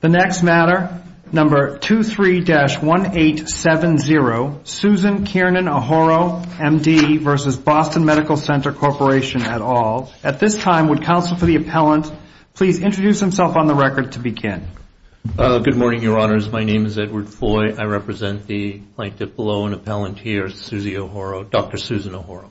The next matter, number 23-1870, Susan Kiernan O'Horo, M.D. v. Boston Medical Center Corporation, et al. At this time, would counsel for the appellant please introduce himself on the record to begin? Good morning, Your Honors. My name is Edward Foy. I represent the plaintiff below and appellant here, Susie O'Horo, Dr. Susan O'Horo.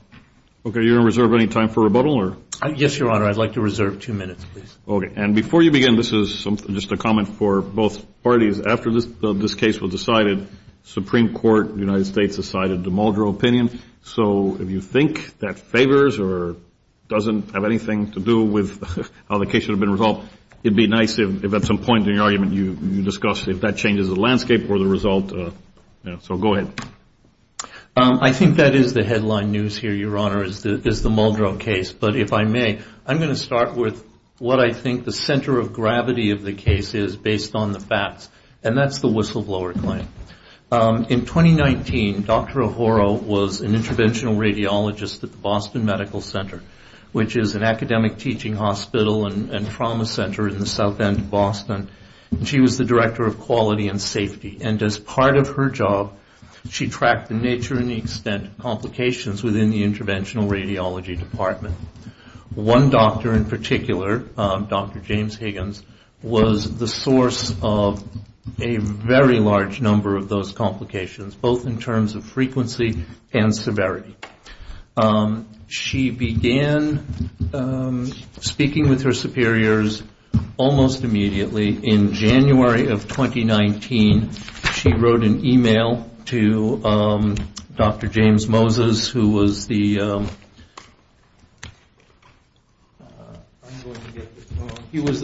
Okay, are you going to reserve any time for rebuttal? Yes, Your Honor. I'd like to reserve two minutes, please. Okay. And before you begin, this is just a comment for both parties. After this case was decided, the Supreme Court of the United States decided the Muldrow opinion. So if you think that favors or doesn't have anything to do with how the case should have been resolved, it'd be nice if at some point in your argument you discussed if that changes the landscape or the result. So go ahead. I think that is the headline news here, Your Honor, is the Muldrow case. But if I may, I'm going to start with what I think the center of gravity of the case is based on the facts, and that's the whistleblower claim. In 2019, Dr. O'Horo was an interventional radiologist at the Boston Medical Center, which is an academic teaching hospital and trauma center in the south end of Boston. She was the director of quality and safety, and as part of her job, she tracked the nature and extent of complications within the interventional radiology department. One doctor in particular, Dr. James Higgins, was the source of a very large number of those complications, both in terms of frequency and severity. She began speaking with her superiors almost immediately in January of 2019. She wrote an email to Dr. James Moses, who was the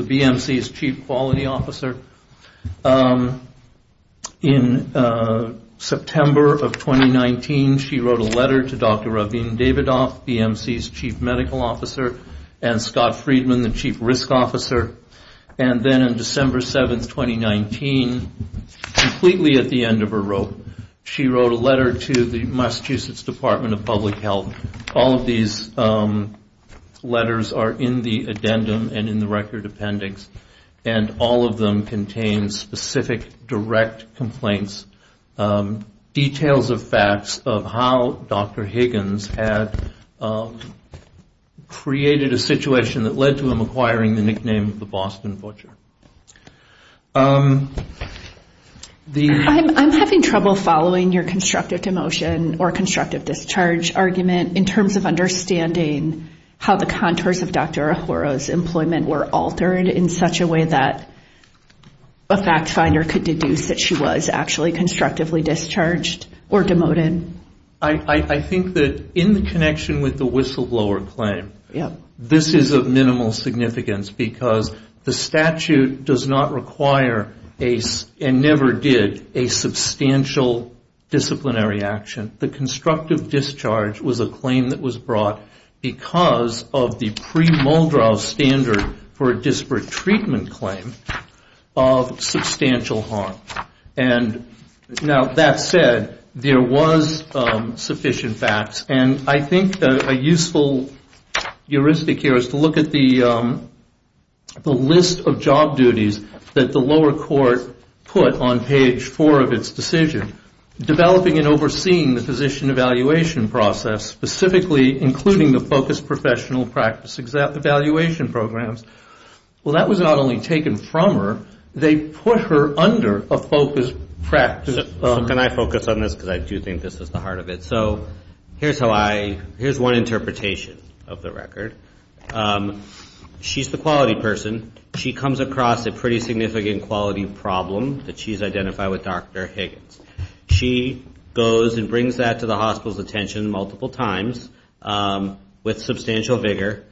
BMC's chief quality officer. In September of 2019, she wrote a letter to Dr. Rabin Davidoff, BMC's chief medical officer, and Scott Friedman, the chief risk officer. And then on December 7, 2019, completely at the end of her rope, she wrote a letter to the Massachusetts Department of Public Health. All of these letters are in the addendum and in the record appendix, and all of them contain specific direct complaints, details of facts of how Dr. Higgins had created a situation that led to him acquiring the nickname of the Boston Butcher. I'm having trouble following your constructive demotion or constructive discharge argument in terms of understanding how the contours of Dr. Ahura's employment were altered in such a way that a fact finder could deduce that she was actually constructively discharged or demoted. I think that in the connection with the whistleblower claim, this is of minimal significance, because the statute does not require, and never did, a substantial disciplinary action. The constructive discharge was a claim that was brought because of the pre-Muldrow standard for a disparate treatment claim of substantial harm. Now, that said, there was sufficient facts, and I think a useful heuristic here is to look at the list of job duties that the lower court put on page four of its decision, developing and overseeing the physician evaluation process, specifically including the focused professional practice evaluation programs. Well, that was not only taken from her, they put her under a focused practice. Can I focus on this, because I do think this is the heart of it? Here's one interpretation of the record. She's the quality person. She comes across a pretty significant quality problem that she's identified with Dr. Higgins. She goes and brings that to the hospital's attention multiple times with substantial vigor.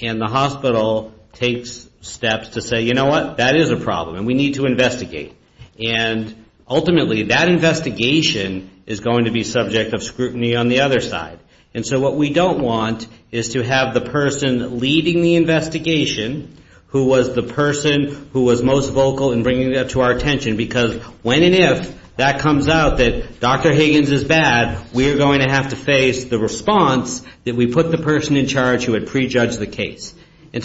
And the hospital takes steps to say, you know what, that is a problem, and we need to investigate. And ultimately, that investigation is going to be subject of scrutiny on the other side. And so what we don't want is to have the person leading the investigation, who was the person who was most vocal in bringing that to our attention, because when and if that comes out that Dr. Higgins is bad, we are going to have to face the response that we put the person in charge who had prejudged the case. And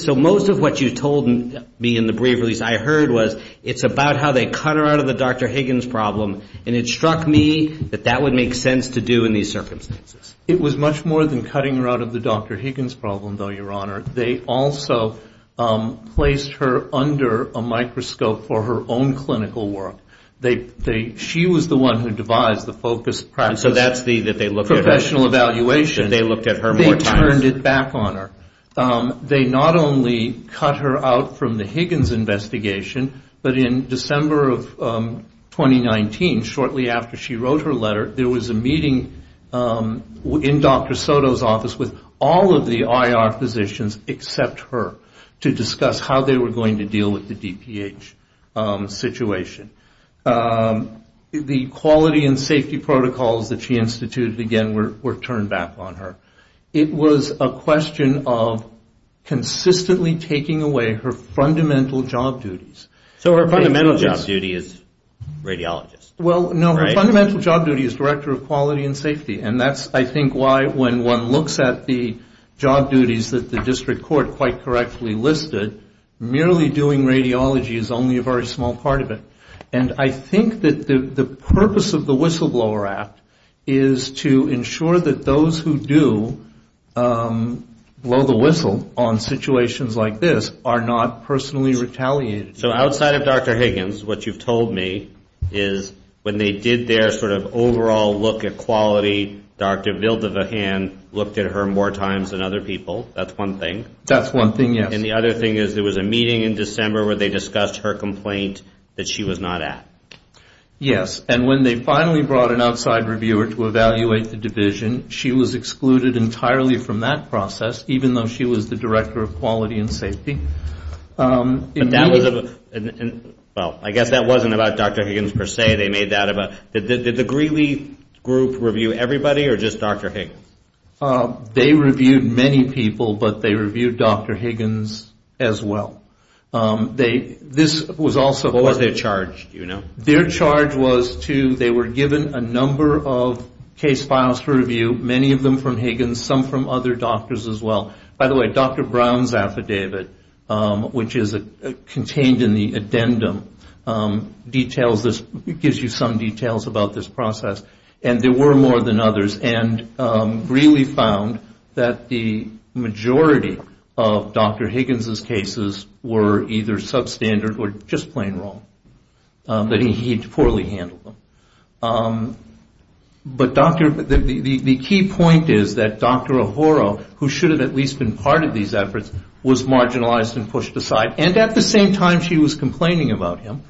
so most of what you told me in the brief release I heard was, it's about how they cut her out of the Dr. Higgins problem, and it struck me that that would make sense to do in these circumstances. It was much more than cutting her out of the Dr. Higgins problem, though, Your Honor. They also placed her under a microscope for her own clinical work. She was the one who devised the focus process. And so that's the, that they looked at her. Professional evaluation. They looked at her more times. They turned it back on her. They not only cut her out from the Higgins investigation, but in December of 2019, shortly after she wrote her letter, there was a meeting in Dr. Soto's office with all of the IR physicians except her, to discuss how they were going to deal with the DPH situation. The quality and safety protocols that she instituted, again, were turned back on her. It was a question of consistently taking away her fundamental job duties. So her fundamental job duty is radiologist. Well, no, her fundamental job duty is director of quality and safety. And that's, I think, why when one looks at the job duties that the district court quite correctly listed, merely doing radiology is only a very small part of it. And I think that the purpose of the Whistleblower Act is to ensure that those who do blow the whistle on situations like this are not personally retaliated. So outside of Dr. Higgins, what you've told me is when they did their sort of overall look at quality, Dr. Vildavahan looked at her more times than other people. That's one thing. That's one thing, yes. And the other thing is there was a meeting in December where they discussed her complaint that she was not at. Yes. And when they finally brought an outside reviewer to evaluate the division, she was excluded entirely from that process, even though she was the director of quality and safety. But that was a, well, I guess that wasn't about Dr. Higgins per se. They made that about, did the Greeley group review everybody or just Dr. Higgins? They reviewed many people, but they reviewed Dr. Higgins as well. They, this was also. What was their charge, do you know? Their charge was to, they were given a number of case files for review, many of them from Higgins, some from other doctors as well. By the way, Dr. Brown's affidavit, which is contained in the addendum, details this, gives you some details about this process, and there were more than others. And Greeley found that the majority of Dr. Higgins' cases were either substandard or just plain wrong, that he poorly handled them. But Dr., the key point is that Dr. O'Hara, who should have at least been part of these efforts, was marginalized and pushed aside. And at the same time, she was complaining about him.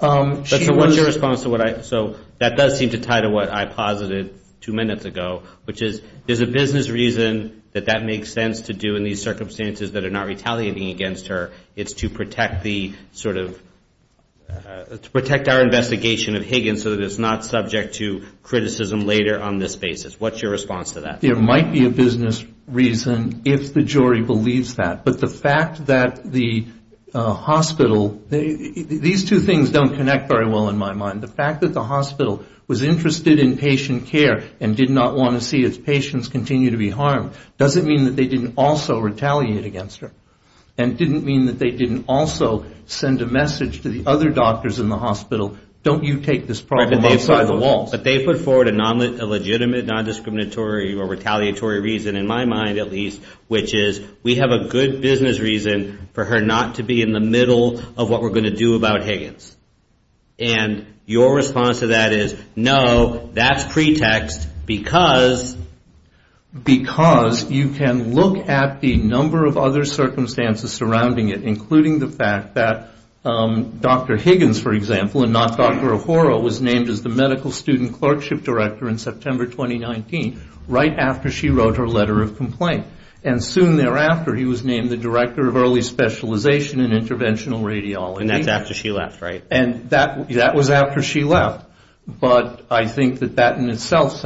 So what's your response to what I, so that does seem to tie to what I posited two minutes ago, which is there's a business reason that that makes sense to do in these circumstances that are not retaliating against her. It's to protect the sort of, to protect our investigation of Higgins so that it's not subject to criticism later on this basis. What's your response to that? There might be a business reason if the jury believes that. But the fact that the hospital, these two things don't connect very well in my mind. The fact that the hospital was interested in patient care and did not want to see its patients continue to be harmed doesn't mean that they didn't also retaliate against her and didn't mean that they didn't also send a message to the other doctors in the hospital, don't you take this problem outside the walls. But they put forward a legitimate non-discriminatory or retaliatory reason, in my mind at least, which is we have a good business reason for her not to be in the middle of what we're going to do about Higgins. And your response to that is, no, that's pretext because... because you can look at the number of other circumstances surrounding it, including the fact that Dr. Higgins, for example, and not Dr. O'Hara, was named as the medical student clerkship director in September 2019, right after she wrote her letter of complaint. And soon thereafter he was named the director of early specialization in interventional radiology. And that's after she left, right? And that was after she left. But I think that that in itself,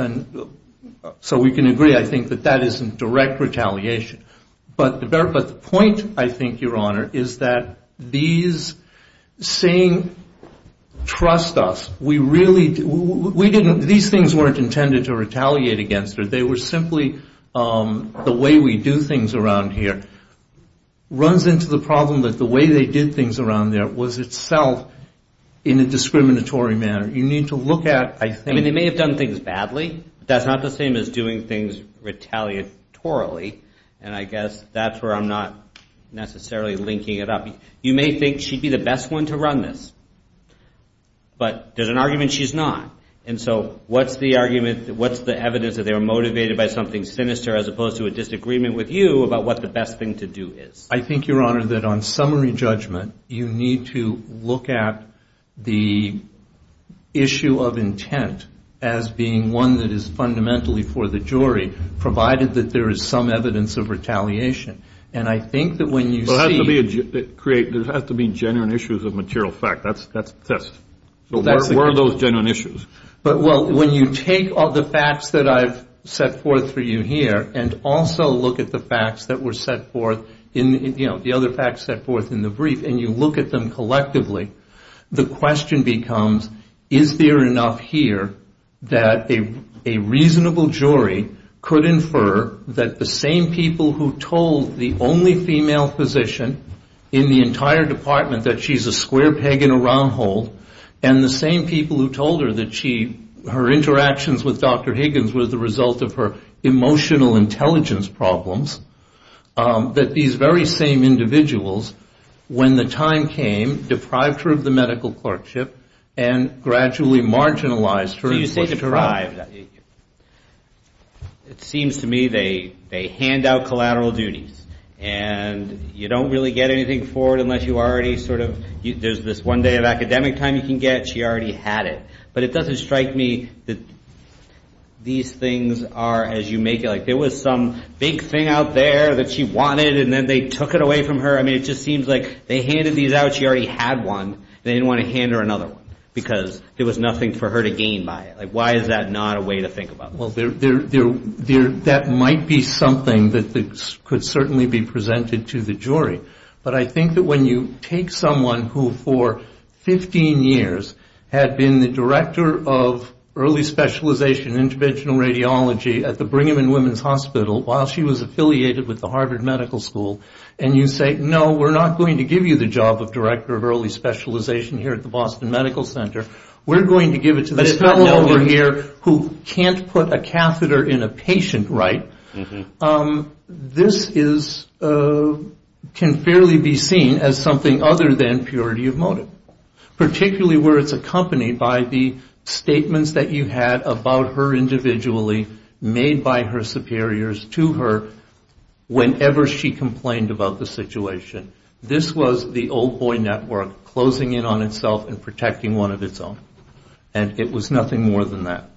so we can agree, I think that that isn't direct retaliation. But the point, I think, Your Honor, is that these saying, trust us, we really... these things weren't intended to retaliate against her, they were simply the way we do things around here, runs into the problem that the way they did things around there was itself in a discriminatory manner. You need to look at, I think... I mean, they may have done things badly, but that's not the same as doing things retaliatorily. And I guess that's where I'm not necessarily linking it up. You may think she'd be the best one to run this, but there's an argument she's not. And so what's the argument, what's the evidence that they were motivated by something sinister as opposed to a disagreement with you about what the best thing to do is? I think, Your Honor, that on summary judgment, you need to look at the issue of intent as being one that is fundamentally for the jury, provided that there is some evidence of retaliation. And I think that when you see... There has to be genuine issues of material fact. That's a test. So where are those genuine issues? Well, when you take the facts that I've set forth for you here and also look at the facts that were set forth in the other facts set forth in the brief and you look at them collectively, the question becomes, is there enough here that a reasonable jury could infer that the same people who told the only female physician in the entire department that she's a square peg in a round hole and the same people who told her that her interactions with Dr. Higgins were the result of her emotional intelligence problems, that these very same individuals, when the time came, deprived her of the medical clerkship and gradually marginalized her... So you say deprived. It seems to me they hand out collateral duties. And you don't really get anything for it unless you already sort of... There's this one day of academic time you can get. She already had it. But it doesn't strike me that these things are, as you make it, like there was some big thing out there that she wanted and then they took it away from her. I mean, it just seems like they handed these out. She already had one. They didn't want to hand her another one because there was nothing for her to gain by it. Why is that not a way to think about this? Well, that might be something that could certainly be presented to the jury. But I think that when you take someone who, for 15 years, had been the director of early specialization in interventional radiology at the Brigham and Women's Hospital while she was affiliated with the Harvard Medical School, and you say, no, we're not going to give you the job of director of early specialization here at the Boston Medical Center. We're going to give it to this fellow over here who can't put a catheter in a patient, right? This can fairly be seen as something other than purity of motive, particularly where it's accompanied by the statements that you had about her individually, made by her superiors to her whenever she complained about the situation. This was the old boy network closing in on itself and protecting one of its own. And it was nothing more than that.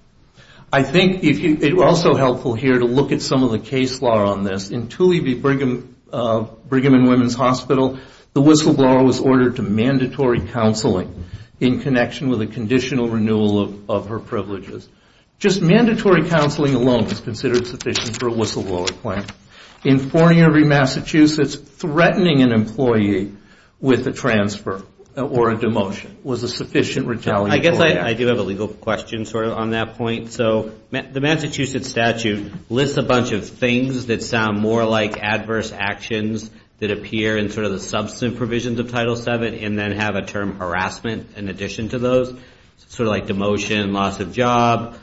I think it's also helpful here to look at some of the case law on this. In Toohey v. Brigham and Women's Hospital, the whistleblower was ordered to mandatory counseling in connection with a conditional renewal of her privileges. Just mandatory counseling alone was considered sufficient for a whistleblower claim. In Fornier v. Massachusetts, threatening an employee with a transfer or a demotion was a sufficient retaliatory claim. I guess I do have a legal question on that point. The Massachusetts statute lists a bunch of things that sound more like adverse actions that appear in the substantive provisions of Title VII and then have a term harassment in addition to those, sort of like demotion, loss of job.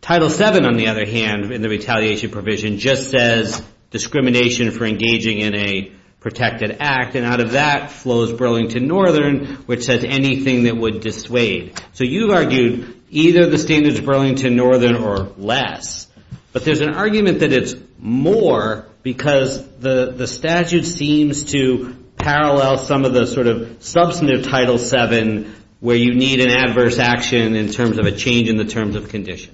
Title VII, on the other hand, in the retaliation provision, just says discrimination for engaging in a protected act. And out of that flows Burlington Northern, which says anything that would dissuade. So you've argued either the standards of Burlington Northern or less. But there's an argument that it's more because the statute seems to parallel some of the sort of substantive Title VII where you need an adverse action in terms of a change in the terms of condition.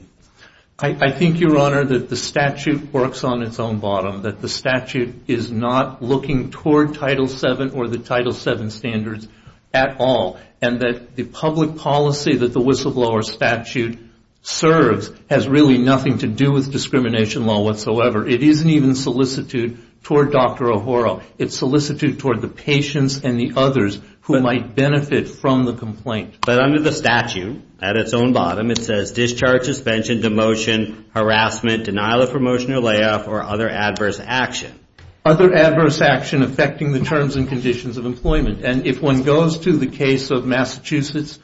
I think, Your Honor, that the statute works on its own bottom, that the statute is not looking toward Title VII or the Title VII standards at all, and that the public policy that the whistleblower statute serves has really nothing to do with discrimination law whatsoever. It isn't even solicitude toward Dr. O'Hara. It's solicitude toward the patients and the others who might benefit from the complaint. But under the statute, at its own bottom, it says, discharge, suspension, demotion, harassment, denial of promotion or layoff, or other adverse action. Other adverse action affecting the terms and conditions of employment. And if one goes to the case of Massachusetts,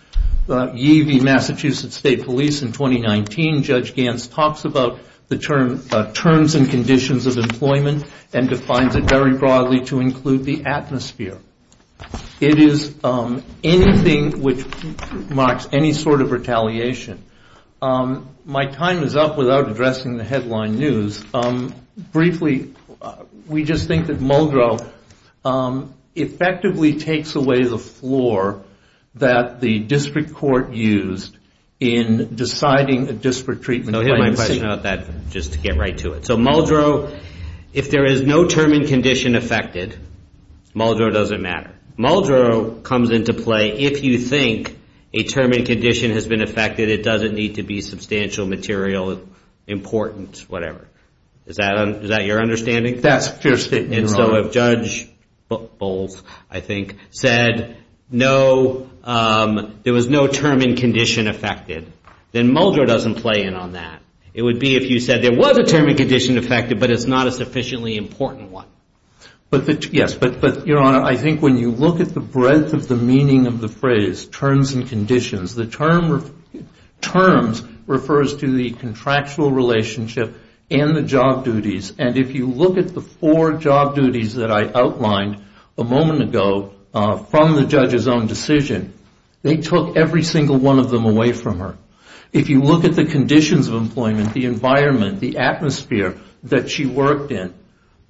Yee v. Massachusetts State Police in 2019, Judge Gantz talks about the terms and conditions of employment and defines it very broadly to include the atmosphere. It is anything which marks any sort of retaliation. My time is up without addressing the headline news. Briefly, we just think that Muldrow effectively takes away the floor that the district court used in deciding a district treatment plan. I'll hit my question on that just to get right to it. So Muldrow, if there is no term and condition affected, Muldrow doesn't matter. Muldrow comes into play if you think a term and condition has been affected. It doesn't need to be substantial, material, important, whatever. Is that your understanding? That's your statement, Your Honor. And so if Judge Bowles, I think, said there was no term and condition affected, then Muldrow doesn't play in on that. It would be if you said there was a term and condition affected, but it's not a sufficiently important one. Yes, but, Your Honor, I think when you look at the breadth of the meaning of the phrase terms and conditions, the term terms refers to the contractual relationship and the job duties. And if you look at the four job duties that I outlined a moment ago from the judge's own decision, they took every single one of them away from her. If you look at the conditions of employment, the environment, the atmosphere that she worked in,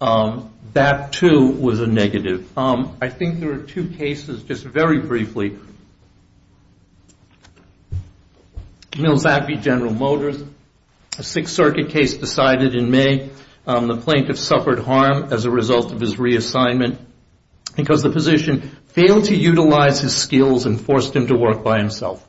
that, too, was a negative. I think there are two cases, just very briefly. Mills Appie, General Motors, a Sixth Circuit case decided in May. The plaintiff suffered harm as a result of his reassignment because the position failed to utilize his skills and forced him to work by himself.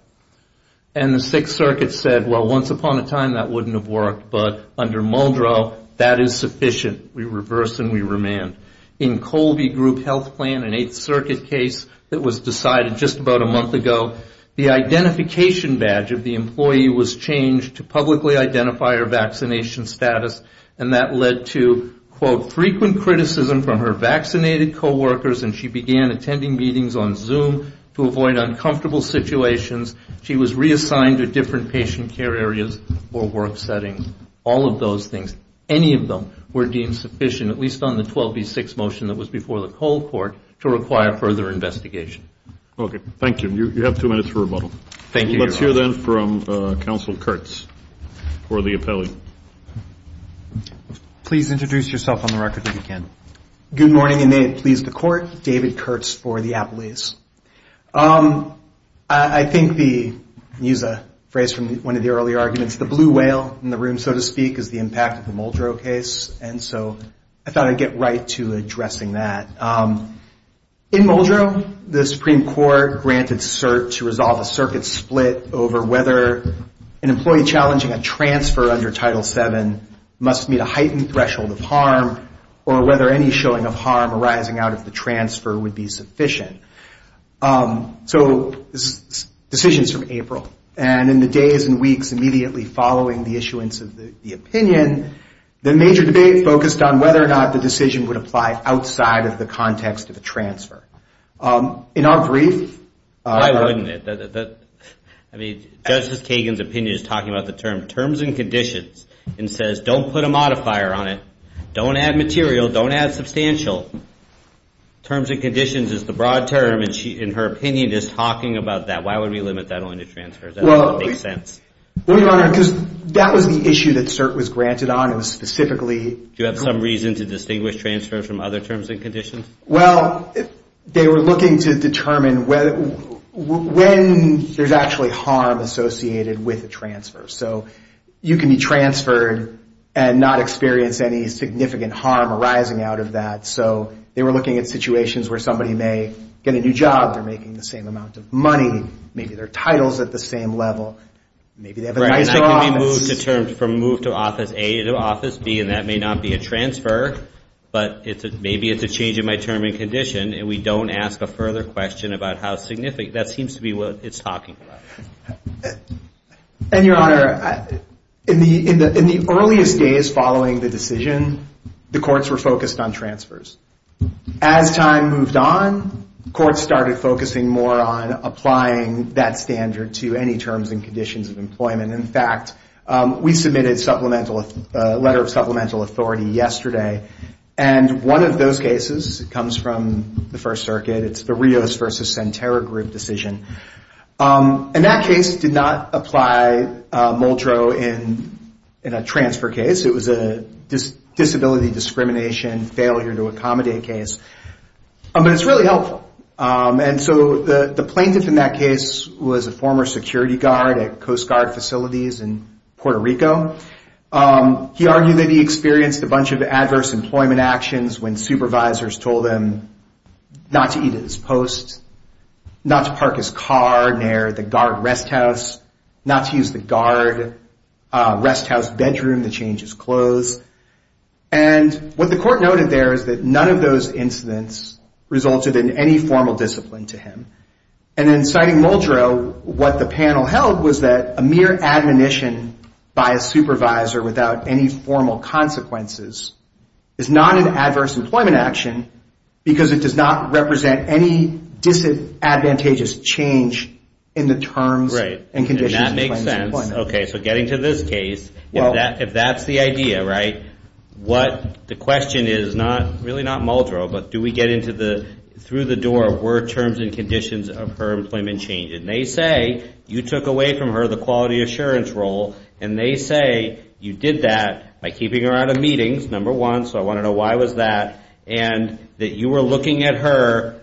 And the Sixth Circuit said, well, once upon a time, that wouldn't have worked, but under Muldrow, that is sufficient. We reverse and we remand. In Colby Group Health Plan, an Eighth Circuit case that was decided just about a month ago, the identification badge of the employee was changed to publicly identify her vaccination status, and that led to, quote, frequent criticism from her vaccinated coworkers, and she began attending meetings on Zoom to avoid uncomfortable situations. She was reassigned to different patient care areas or work settings. All of those things, any of them, were deemed sufficient, at least on the 12B6 motion that was before the cold court, to require further investigation. Okay. Thank you. You have two minutes for rebuttal. Thank you, Your Honor. Let's hear, then, from Counsel Kurtz for the appellate. Please introduce yourself on the record if you can. Good morning, and may it please the Court. David Kurtz for the appellate. I think the, use a phrase from one of the earlier arguments, the blue whale in the room, so to speak, is the impact of the Muldrow case, and so I thought I'd get right to addressing that. In Muldrow, the Supreme Court granted cert to resolve a circuit split over whether an employee challenging a transfer under Title VII must meet a heightened threshold of harm or whether any showing of harm arising out of the transfer would be sufficient. So decisions from April, and in the days and weeks immediately following the issuance of the opinion, the major debate focused on whether or not the decision would apply outside of the context of a transfer. In our brief, Why wouldn't it? I mean, Justice Kagan's opinion is talking about the term, terms and conditions, and says don't put a modifier on it, don't add material, don't add substantial. Terms and conditions is the broad term, and she, in her opinion, is talking about that. Why would we limit that only to transfers? That doesn't make sense. Well, Your Honor, because that was the issue that cert was granted on, and specifically. Do you have some reason to distinguish transfers from other terms and conditions? Well, they were looking to determine when there's actually harm associated with a transfer. So you can be transferred and not experience any significant harm arising out of that. So they were looking at situations where somebody may get a new job. They're making the same amount of money. Maybe their title's at the same level. Maybe they have a nicer office. Right, and I think when we move to terms from move to Office A to Office B, and that may not be a transfer, but maybe it's a change in my term and condition, and we don't ask a further question about how significant. That seems to be what it's talking about. And, Your Honor, in the earliest days following the decision, the courts were focused on transfers. As time moved on, courts started focusing more on applying that standard to any terms and conditions of employment. In fact, we submitted a letter of supplemental authority yesterday, and one of those cases comes from the First Circuit. It's the Rios versus Senterra group decision. And that case did not apply Muldrow in a transfer case. It was a disability discrimination failure to accommodate case. But it's really helpful. And so the plaintiff in that case was a former security guard at Coast Guard facilities in Puerto Rico. He argued that he experienced a bunch of adverse employment actions when supervisors told him not to eat at his post, not to park his car near the guard rest house, not to use the guard rest house bedroom to change his clothes. And what the court noted there is that none of those incidents resulted in any formal discipline to him. And in citing Muldrow, what the panel held was that a mere admonition by a supervisor without any formal consequences is not an adverse employment action because it does not represent any disadvantageous change in the terms and conditions. Right. And that makes sense. Okay. So getting to this case, if that's the idea, right, what the question is, really not Muldrow, but do we get through the door were terms and conditions of her employment changed? And they say you took away from her the quality assurance role. And they say you did that by keeping her out of meetings, number one, so I want to know why was that, and that you were looking at her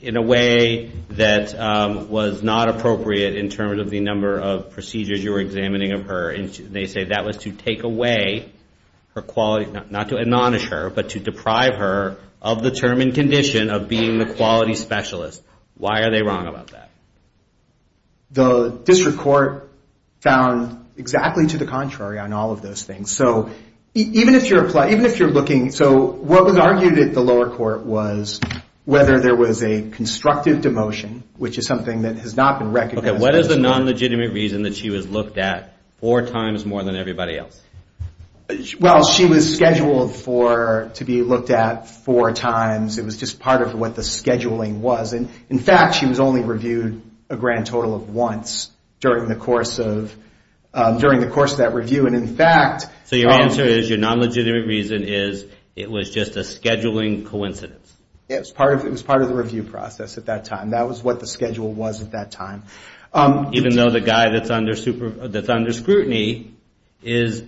in a way that was not appropriate in terms of the number of procedures you were examining of her. And they say that was to take away her quality, not to admonish her, but to deprive her of the term and condition of being the quality specialist. Why are they wrong about that? The district court found exactly to the contrary on all of those things. So even if you're looking, so what was argued at the lower court was whether there was a constructive demotion, which is something that has not been recognized. Okay. What is the non-legitimate reason that she was looked at four times more than everybody else? Well, she was scheduled to be looked at four times. It was just part of what the scheduling was. And, in fact, she was only reviewed a grand total of once during the course of that review. And, in fact, So your answer is your non-legitimate reason is it was just a scheduling coincidence. It was part of the review process at that time. That was what the schedule was at that time. Even though the guy that's under scrutiny is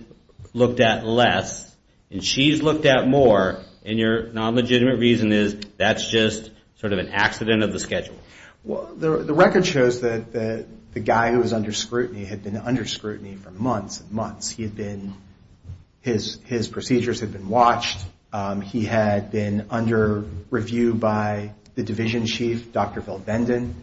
looked at less, and she's looked at more, and your non-legitimate reason is that's just sort of an accident of the schedule. Well, the record shows that the guy who was under scrutiny had been under scrutiny for months and months. He had been, his procedures had been watched. He had been under review by the division chief, Dr. Phil Benden.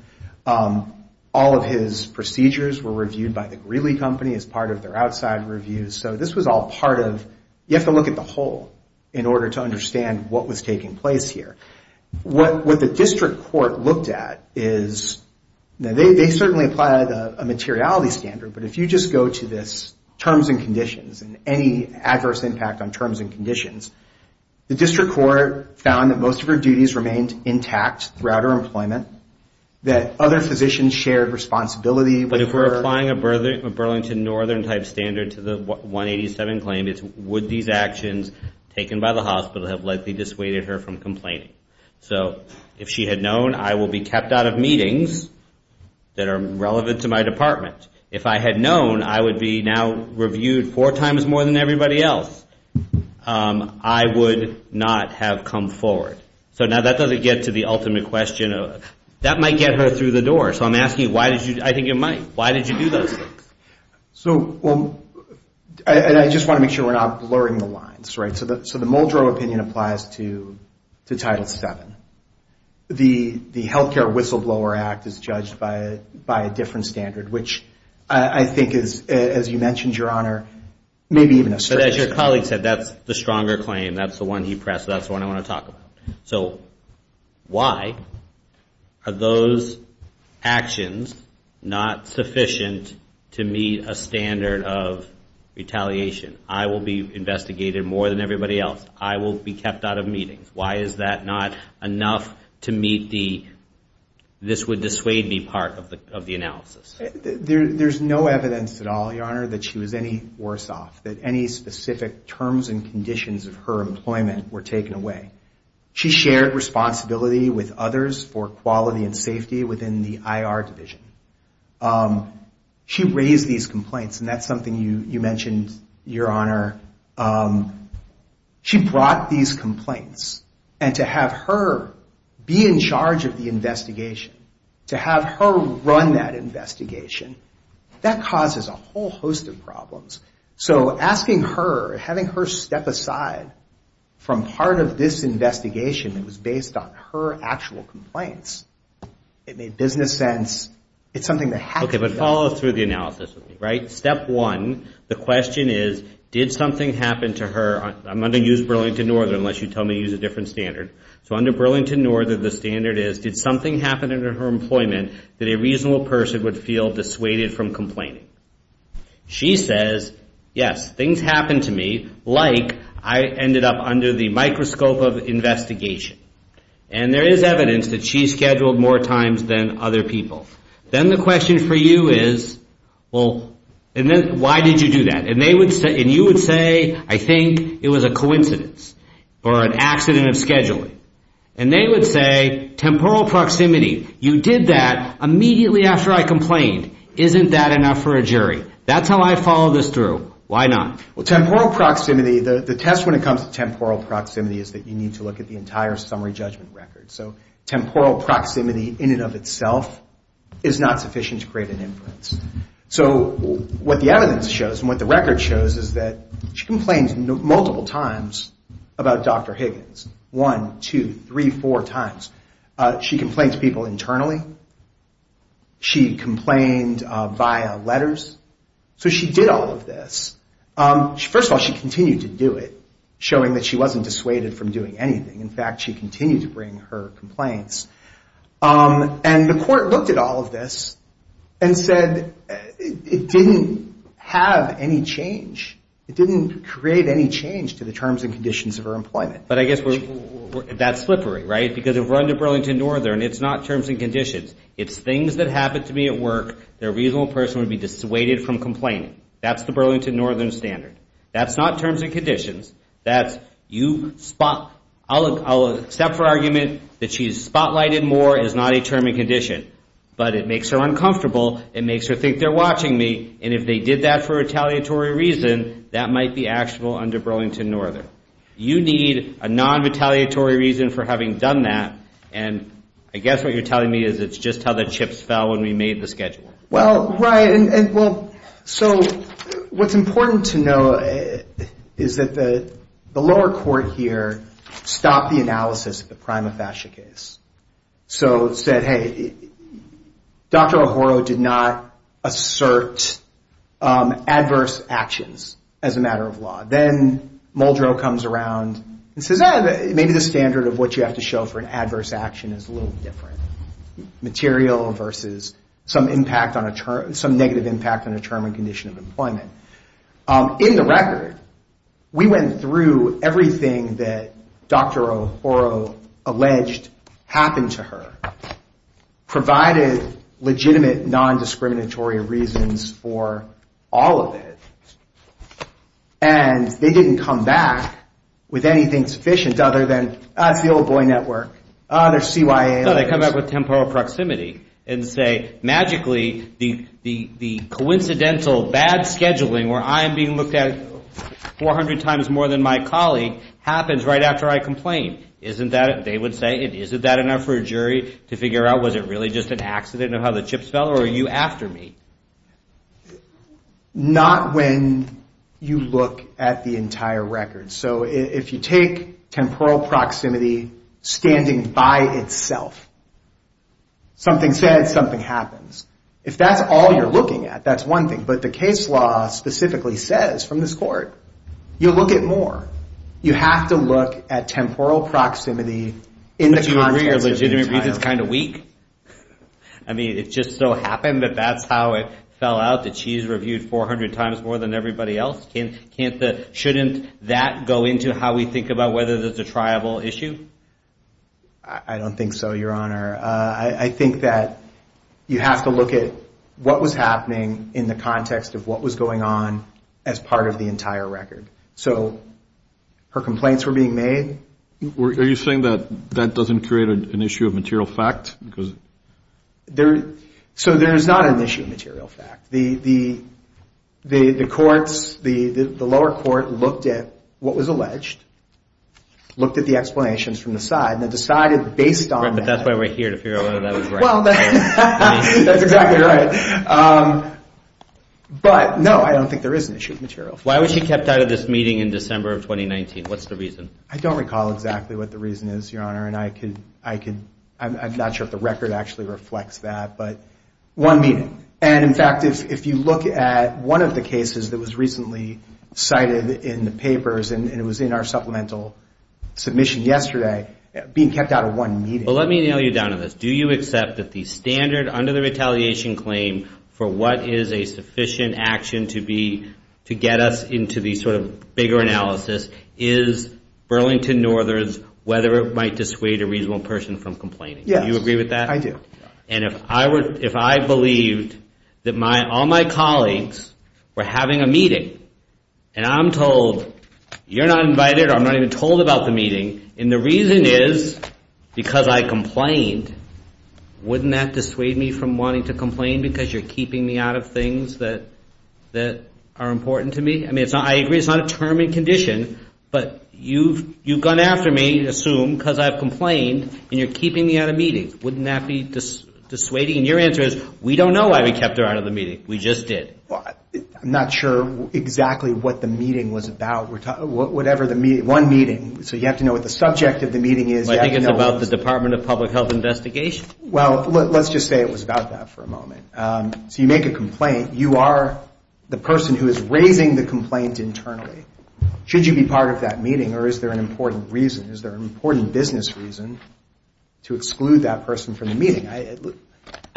All of his procedures were reviewed by the Greeley Company as part of their outside reviews. So this was all part of, you have to look at the whole in order to understand what was taking place here. What the district court looked at is, they certainly applied a materiality standard, but if you just go to this terms and conditions and any adverse impact on terms and conditions, the district court found that most of her duties remained intact throughout her employment, that other physicians shared responsibility. But if we're applying a Burlington Northern type standard to the 187 claim, it's would these actions taken by the hospital have likely dissuaded her from complaining? So if she had known I will be kept out of meetings that are relevant to my department, if I had known I would be now reviewed four times more than everybody else, I would not have come forward. So now that doesn't get to the ultimate question. That might get her through the door. So I'm asking why did you, I think it might. Why did you do those things? So, well, and I just want to make sure we're not blurring the lines, right? So the Muldrow opinion applies to Title VII. The Healthcare Whistleblower Act is judged by a different standard, which I think is, as you mentioned, Your Honor, maybe even a stretch. But as your colleague said, that's the stronger claim. That's the one he pressed. That's the one I want to talk about. So why are those actions not sufficient to meet a standard of retaliation? I will be investigated more than everybody else. I will be kept out of meetings. Why is that not enough to meet the, this would dissuade me part of the analysis? There's no evidence at all, Your Honor, that she was any worse off, that any specific terms and conditions of her employment were taken away. She shared responsibility with others for quality and safety within the IR division. She raised these complaints, and that's something you mentioned, Your Honor. She brought these complaints, and to have her be in charge of the investigation, to have her run that investigation, that causes a whole host of problems. So asking her, having her step aside from part of this investigation that was based on her actual complaints, it made business sense. It's something that has to be done. Okay, but follow through the analysis with me, right? Step one, the question is, did something happen to her? I'm going to use Burlington Northern, unless you tell me to use a different standard. So under Burlington Northern, the standard is, did something happen under her employment that a reasonable person would feel dissuaded from complaining? She says, yes, things happened to me, like I ended up under the microscope of investigation. And there is evidence that she's scheduled more times than other people. Then the question for you is, well, why did you do that? And you would say, I think it was a coincidence or an accident of scheduling. And they would say, temporal proximity. You did that immediately after I complained. Isn't that enough for a jury? That's how I follow this through. Why not? Well, temporal proximity, the test when it comes to temporal proximity is that you need to look at the entire summary judgment record. So temporal proximity in and of itself is not sufficient to create an inference. So what the evidence shows and what the record shows is that she complained multiple times about Dr. Higgins, one, two, three, four times. She complained to people internally. She complained via letters. So she did all of this. First of all, she continued to do it, showing that she wasn't dissuaded from doing anything. In fact, she continued to bring her complaints. And the court looked at all of this and said it didn't have any change. It didn't create any change to the terms and conditions of her employment. But I guess that's slippery, right? Because if we're under Burlington Northern, it's not terms and conditions. It's things that happen to me at work that a reasonable person would be dissuaded from complaining. That's the Burlington Northern standard. That's not terms and conditions. I'll accept her argument that she's spotlighted more as not a term and condition. But it makes her uncomfortable. It makes her think they're watching me. And if they did that for retaliatory reason, that might be actionable under Burlington Northern. You need a non-retaliatory reason for having done that. And I guess what you're telling me is it's just how the chips fell when we made the schedule. Well, right. So what's important to know is that the lower court here stopped the analysis of the prima facie case. So it said, hey, Dr. O'Hara did not assert adverse actions as a matter of law. Then Muldrow comes around and says, ah, maybe the standard of what you have to show for an adverse action is a little different. Material versus some negative impact on a term and condition of employment. In the record, we went through everything that Dr. O'Hara alleged happened to her, provided legitimate non-discriminatory reasons for all of it, and they didn't come back with anything sufficient other than, ah, it's the old boy network. Ah, they're CYA. No, they come back with temporal proximity and say, magically, the coincidental bad scheduling where I'm being looked at 400 times more than my colleague happens right after I complain. Isn't that, they would say, isn't that enough for a jury to figure out, was it really just an accident of how the chips fell, or are you after me? Not when you look at the entire record. So if you take temporal proximity standing by itself, something said, something happens. If that's all you're looking at, that's one thing. But the case law specifically says from this court, you look at more. You have to look at temporal proximity in the context of the entire. But you agree your legitimate reason is kind of weak? I mean, it just so happened that that's how it fell out, that she's reviewed 400 times more than everybody else. Shouldn't that go into how we think about whether there's a triable issue? I don't think so, Your Honor. I think that you have to look at what was happening in the context of what was going on as part of the entire record. So her complaints were being made. Are you saying that that doesn't create an issue of material fact? So there's not an issue of material fact. The courts, the lower court looked at what was alleged, looked at the explanations from the side, and decided based on that. Right, but that's why we're here, to figure out whether that was right. Well, that's exactly right. But no, I don't think there is an issue of material fact. Why was she kept out of this meeting in December of 2019? What's the reason? I don't recall exactly what the reason is, Your Honor, and I'm not sure if the record actually reflects that, but one meeting. And in fact, if you look at one of the cases that was recently cited in the papers, and it was in our supplemental submission yesterday, being kept out of one meeting. Well, let me nail you down to this. Do you accept that the standard under the retaliation claim for what is a sufficient action to get us into the sort of bigger analysis is Burlington Northerns, whether it might dissuade a reasonable person from complaining? Yes. Do you agree with that? I do. And if I believed that all my colleagues were having a meeting, and I'm told, you're not invited, or I'm not even told about the meeting, and the reason is because I complained, wouldn't that dissuade me from wanting to complain because you're keeping me out of things that are important to me? I mean, I agree it's not a term and condition, but you've gone after me, assume, because I've complained, and you're keeping me out of meetings. Wouldn't that be dissuading? And your answer is, we don't know why we kept her out of the meeting. We just did. I'm not sure exactly what the meeting was about. One meeting, so you have to know what the subject of the meeting is. I think it's about the Department of Public Health investigation. Well, let's just say it was about that for a moment. So you make a complaint. You are the person who is raising the complaint internally. Should you be part of that meeting, or is there an important reason? Is there an important business reason to exclude that person from the meeting? I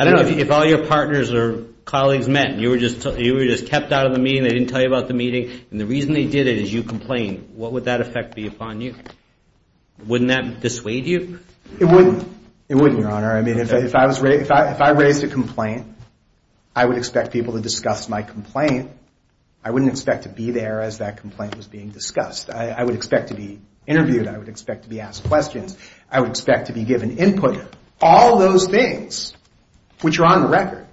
don't know. If all your partners or colleagues met and you were just kept out of the meeting, they didn't tell you about the meeting, and the reason they did it is you complained, what would that effect be upon you? Wouldn't that dissuade you? It wouldn't. It wouldn't, Your Honor. I mean, if I raised a complaint, I would expect people to discuss my complaint. I wouldn't expect to be there as that complaint was being discussed. I would expect to be interviewed. I would expect to be asked questions. I would expect to be given input. All those things, which are on the record.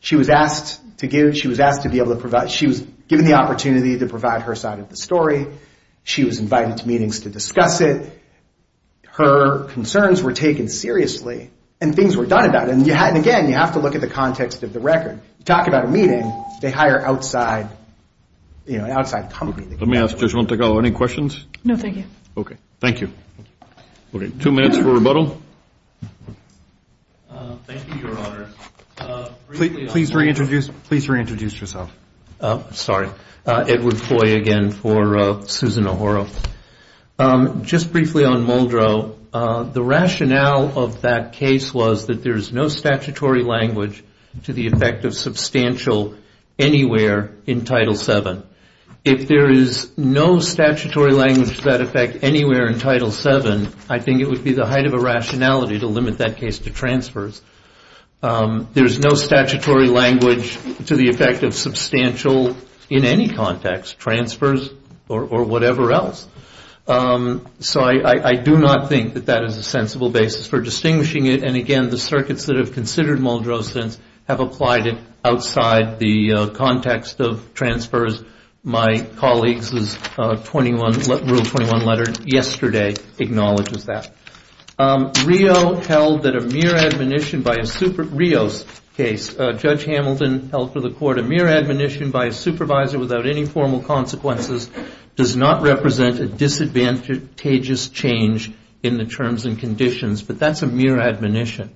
She was asked to be able to provide. She was given the opportunity to provide her side of the story. She was invited to meetings to discuss it. Her concerns were taken seriously, and things were done about it. And, again, you have to look at the context of the record. You talk about a meeting, they hire an outside company. Let me ask Judge Montego, any questions? No, thank you. Okay. Thank you. Okay, two minutes for rebuttal. Thank you, Your Honor. Please reintroduce yourself. Sorry. Edward Foy again for Susan O'Hara. Just briefly on Muldrow, the rationale of that case was that there is no statutory language to the effect of substantial anywhere in Title VII. If there is no statutory language to that effect anywhere in Title VII, I think it would be the height of a rationality to limit that case to transfers. There is no statutory language to the effect of substantial in any context, transfers or whatever else. So I do not think that that is a sensible basis for distinguishing it. And, again, the circuits that have considered Muldrow since have applied it outside the context of transfers. My colleague's Rule 21 letter yesterday acknowledges that. RIO held that a mere admonition by a super RIO's case, Judge Hamilton held for the court, a mere admonition by a supervisor without any formal consequences does not represent a disadvantageous change in the terms and conditions. But that's a mere admonition.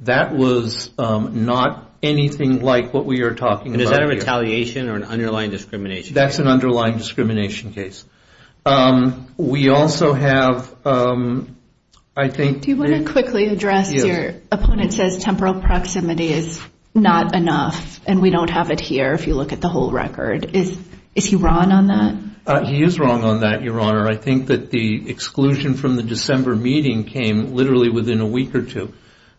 That was not anything like what we are talking about here. That's an underlying discrimination case. We also have, I think. Do you want to quickly address your opponent says temporal proximity is not enough and we don't have it here if you look at the whole record. Is he wrong on that? He is wrong on that, Your Honor. I think that the exclusion from the December meeting came literally within a week or two.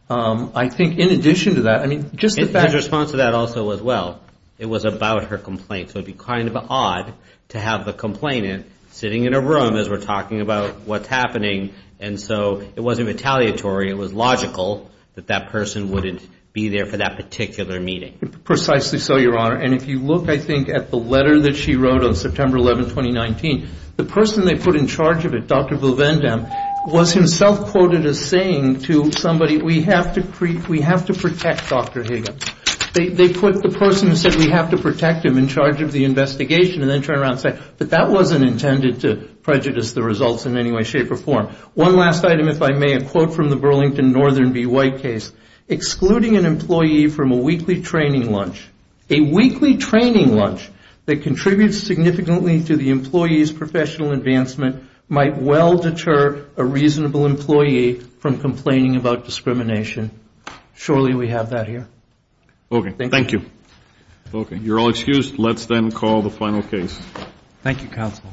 I think in addition to that, I mean, just the fact. His response to that also was, well, it was about her complaint. So it would be kind of odd to have the complainant sitting in a room as we're talking about what's happening. And so it wasn't retaliatory. It was logical that that person wouldn't be there for that particular meeting. Precisely so, Your Honor. And if you look, I think, at the letter that she wrote on September 11, 2019, the person they put in charge of it, Dr. Buvendam, was himself quoted as saying to somebody, we have to protect Dr. Higgins. They put the person who said we have to protect him in charge of the investigation and then turn around and say, but that wasn't intended to prejudice the results in any way, shape, or form. One last item, if I may, a quote from the Burlington Northern B. White case. Excluding an employee from a weekly training lunch. A weekly training lunch that contributes significantly to the employee's professional advancement might well deter a reasonable employee from complaining about discrimination. Surely we have that here. Okay. Thank you. Okay. You're all excused. Let's then call the final case. Thank you, Counsel.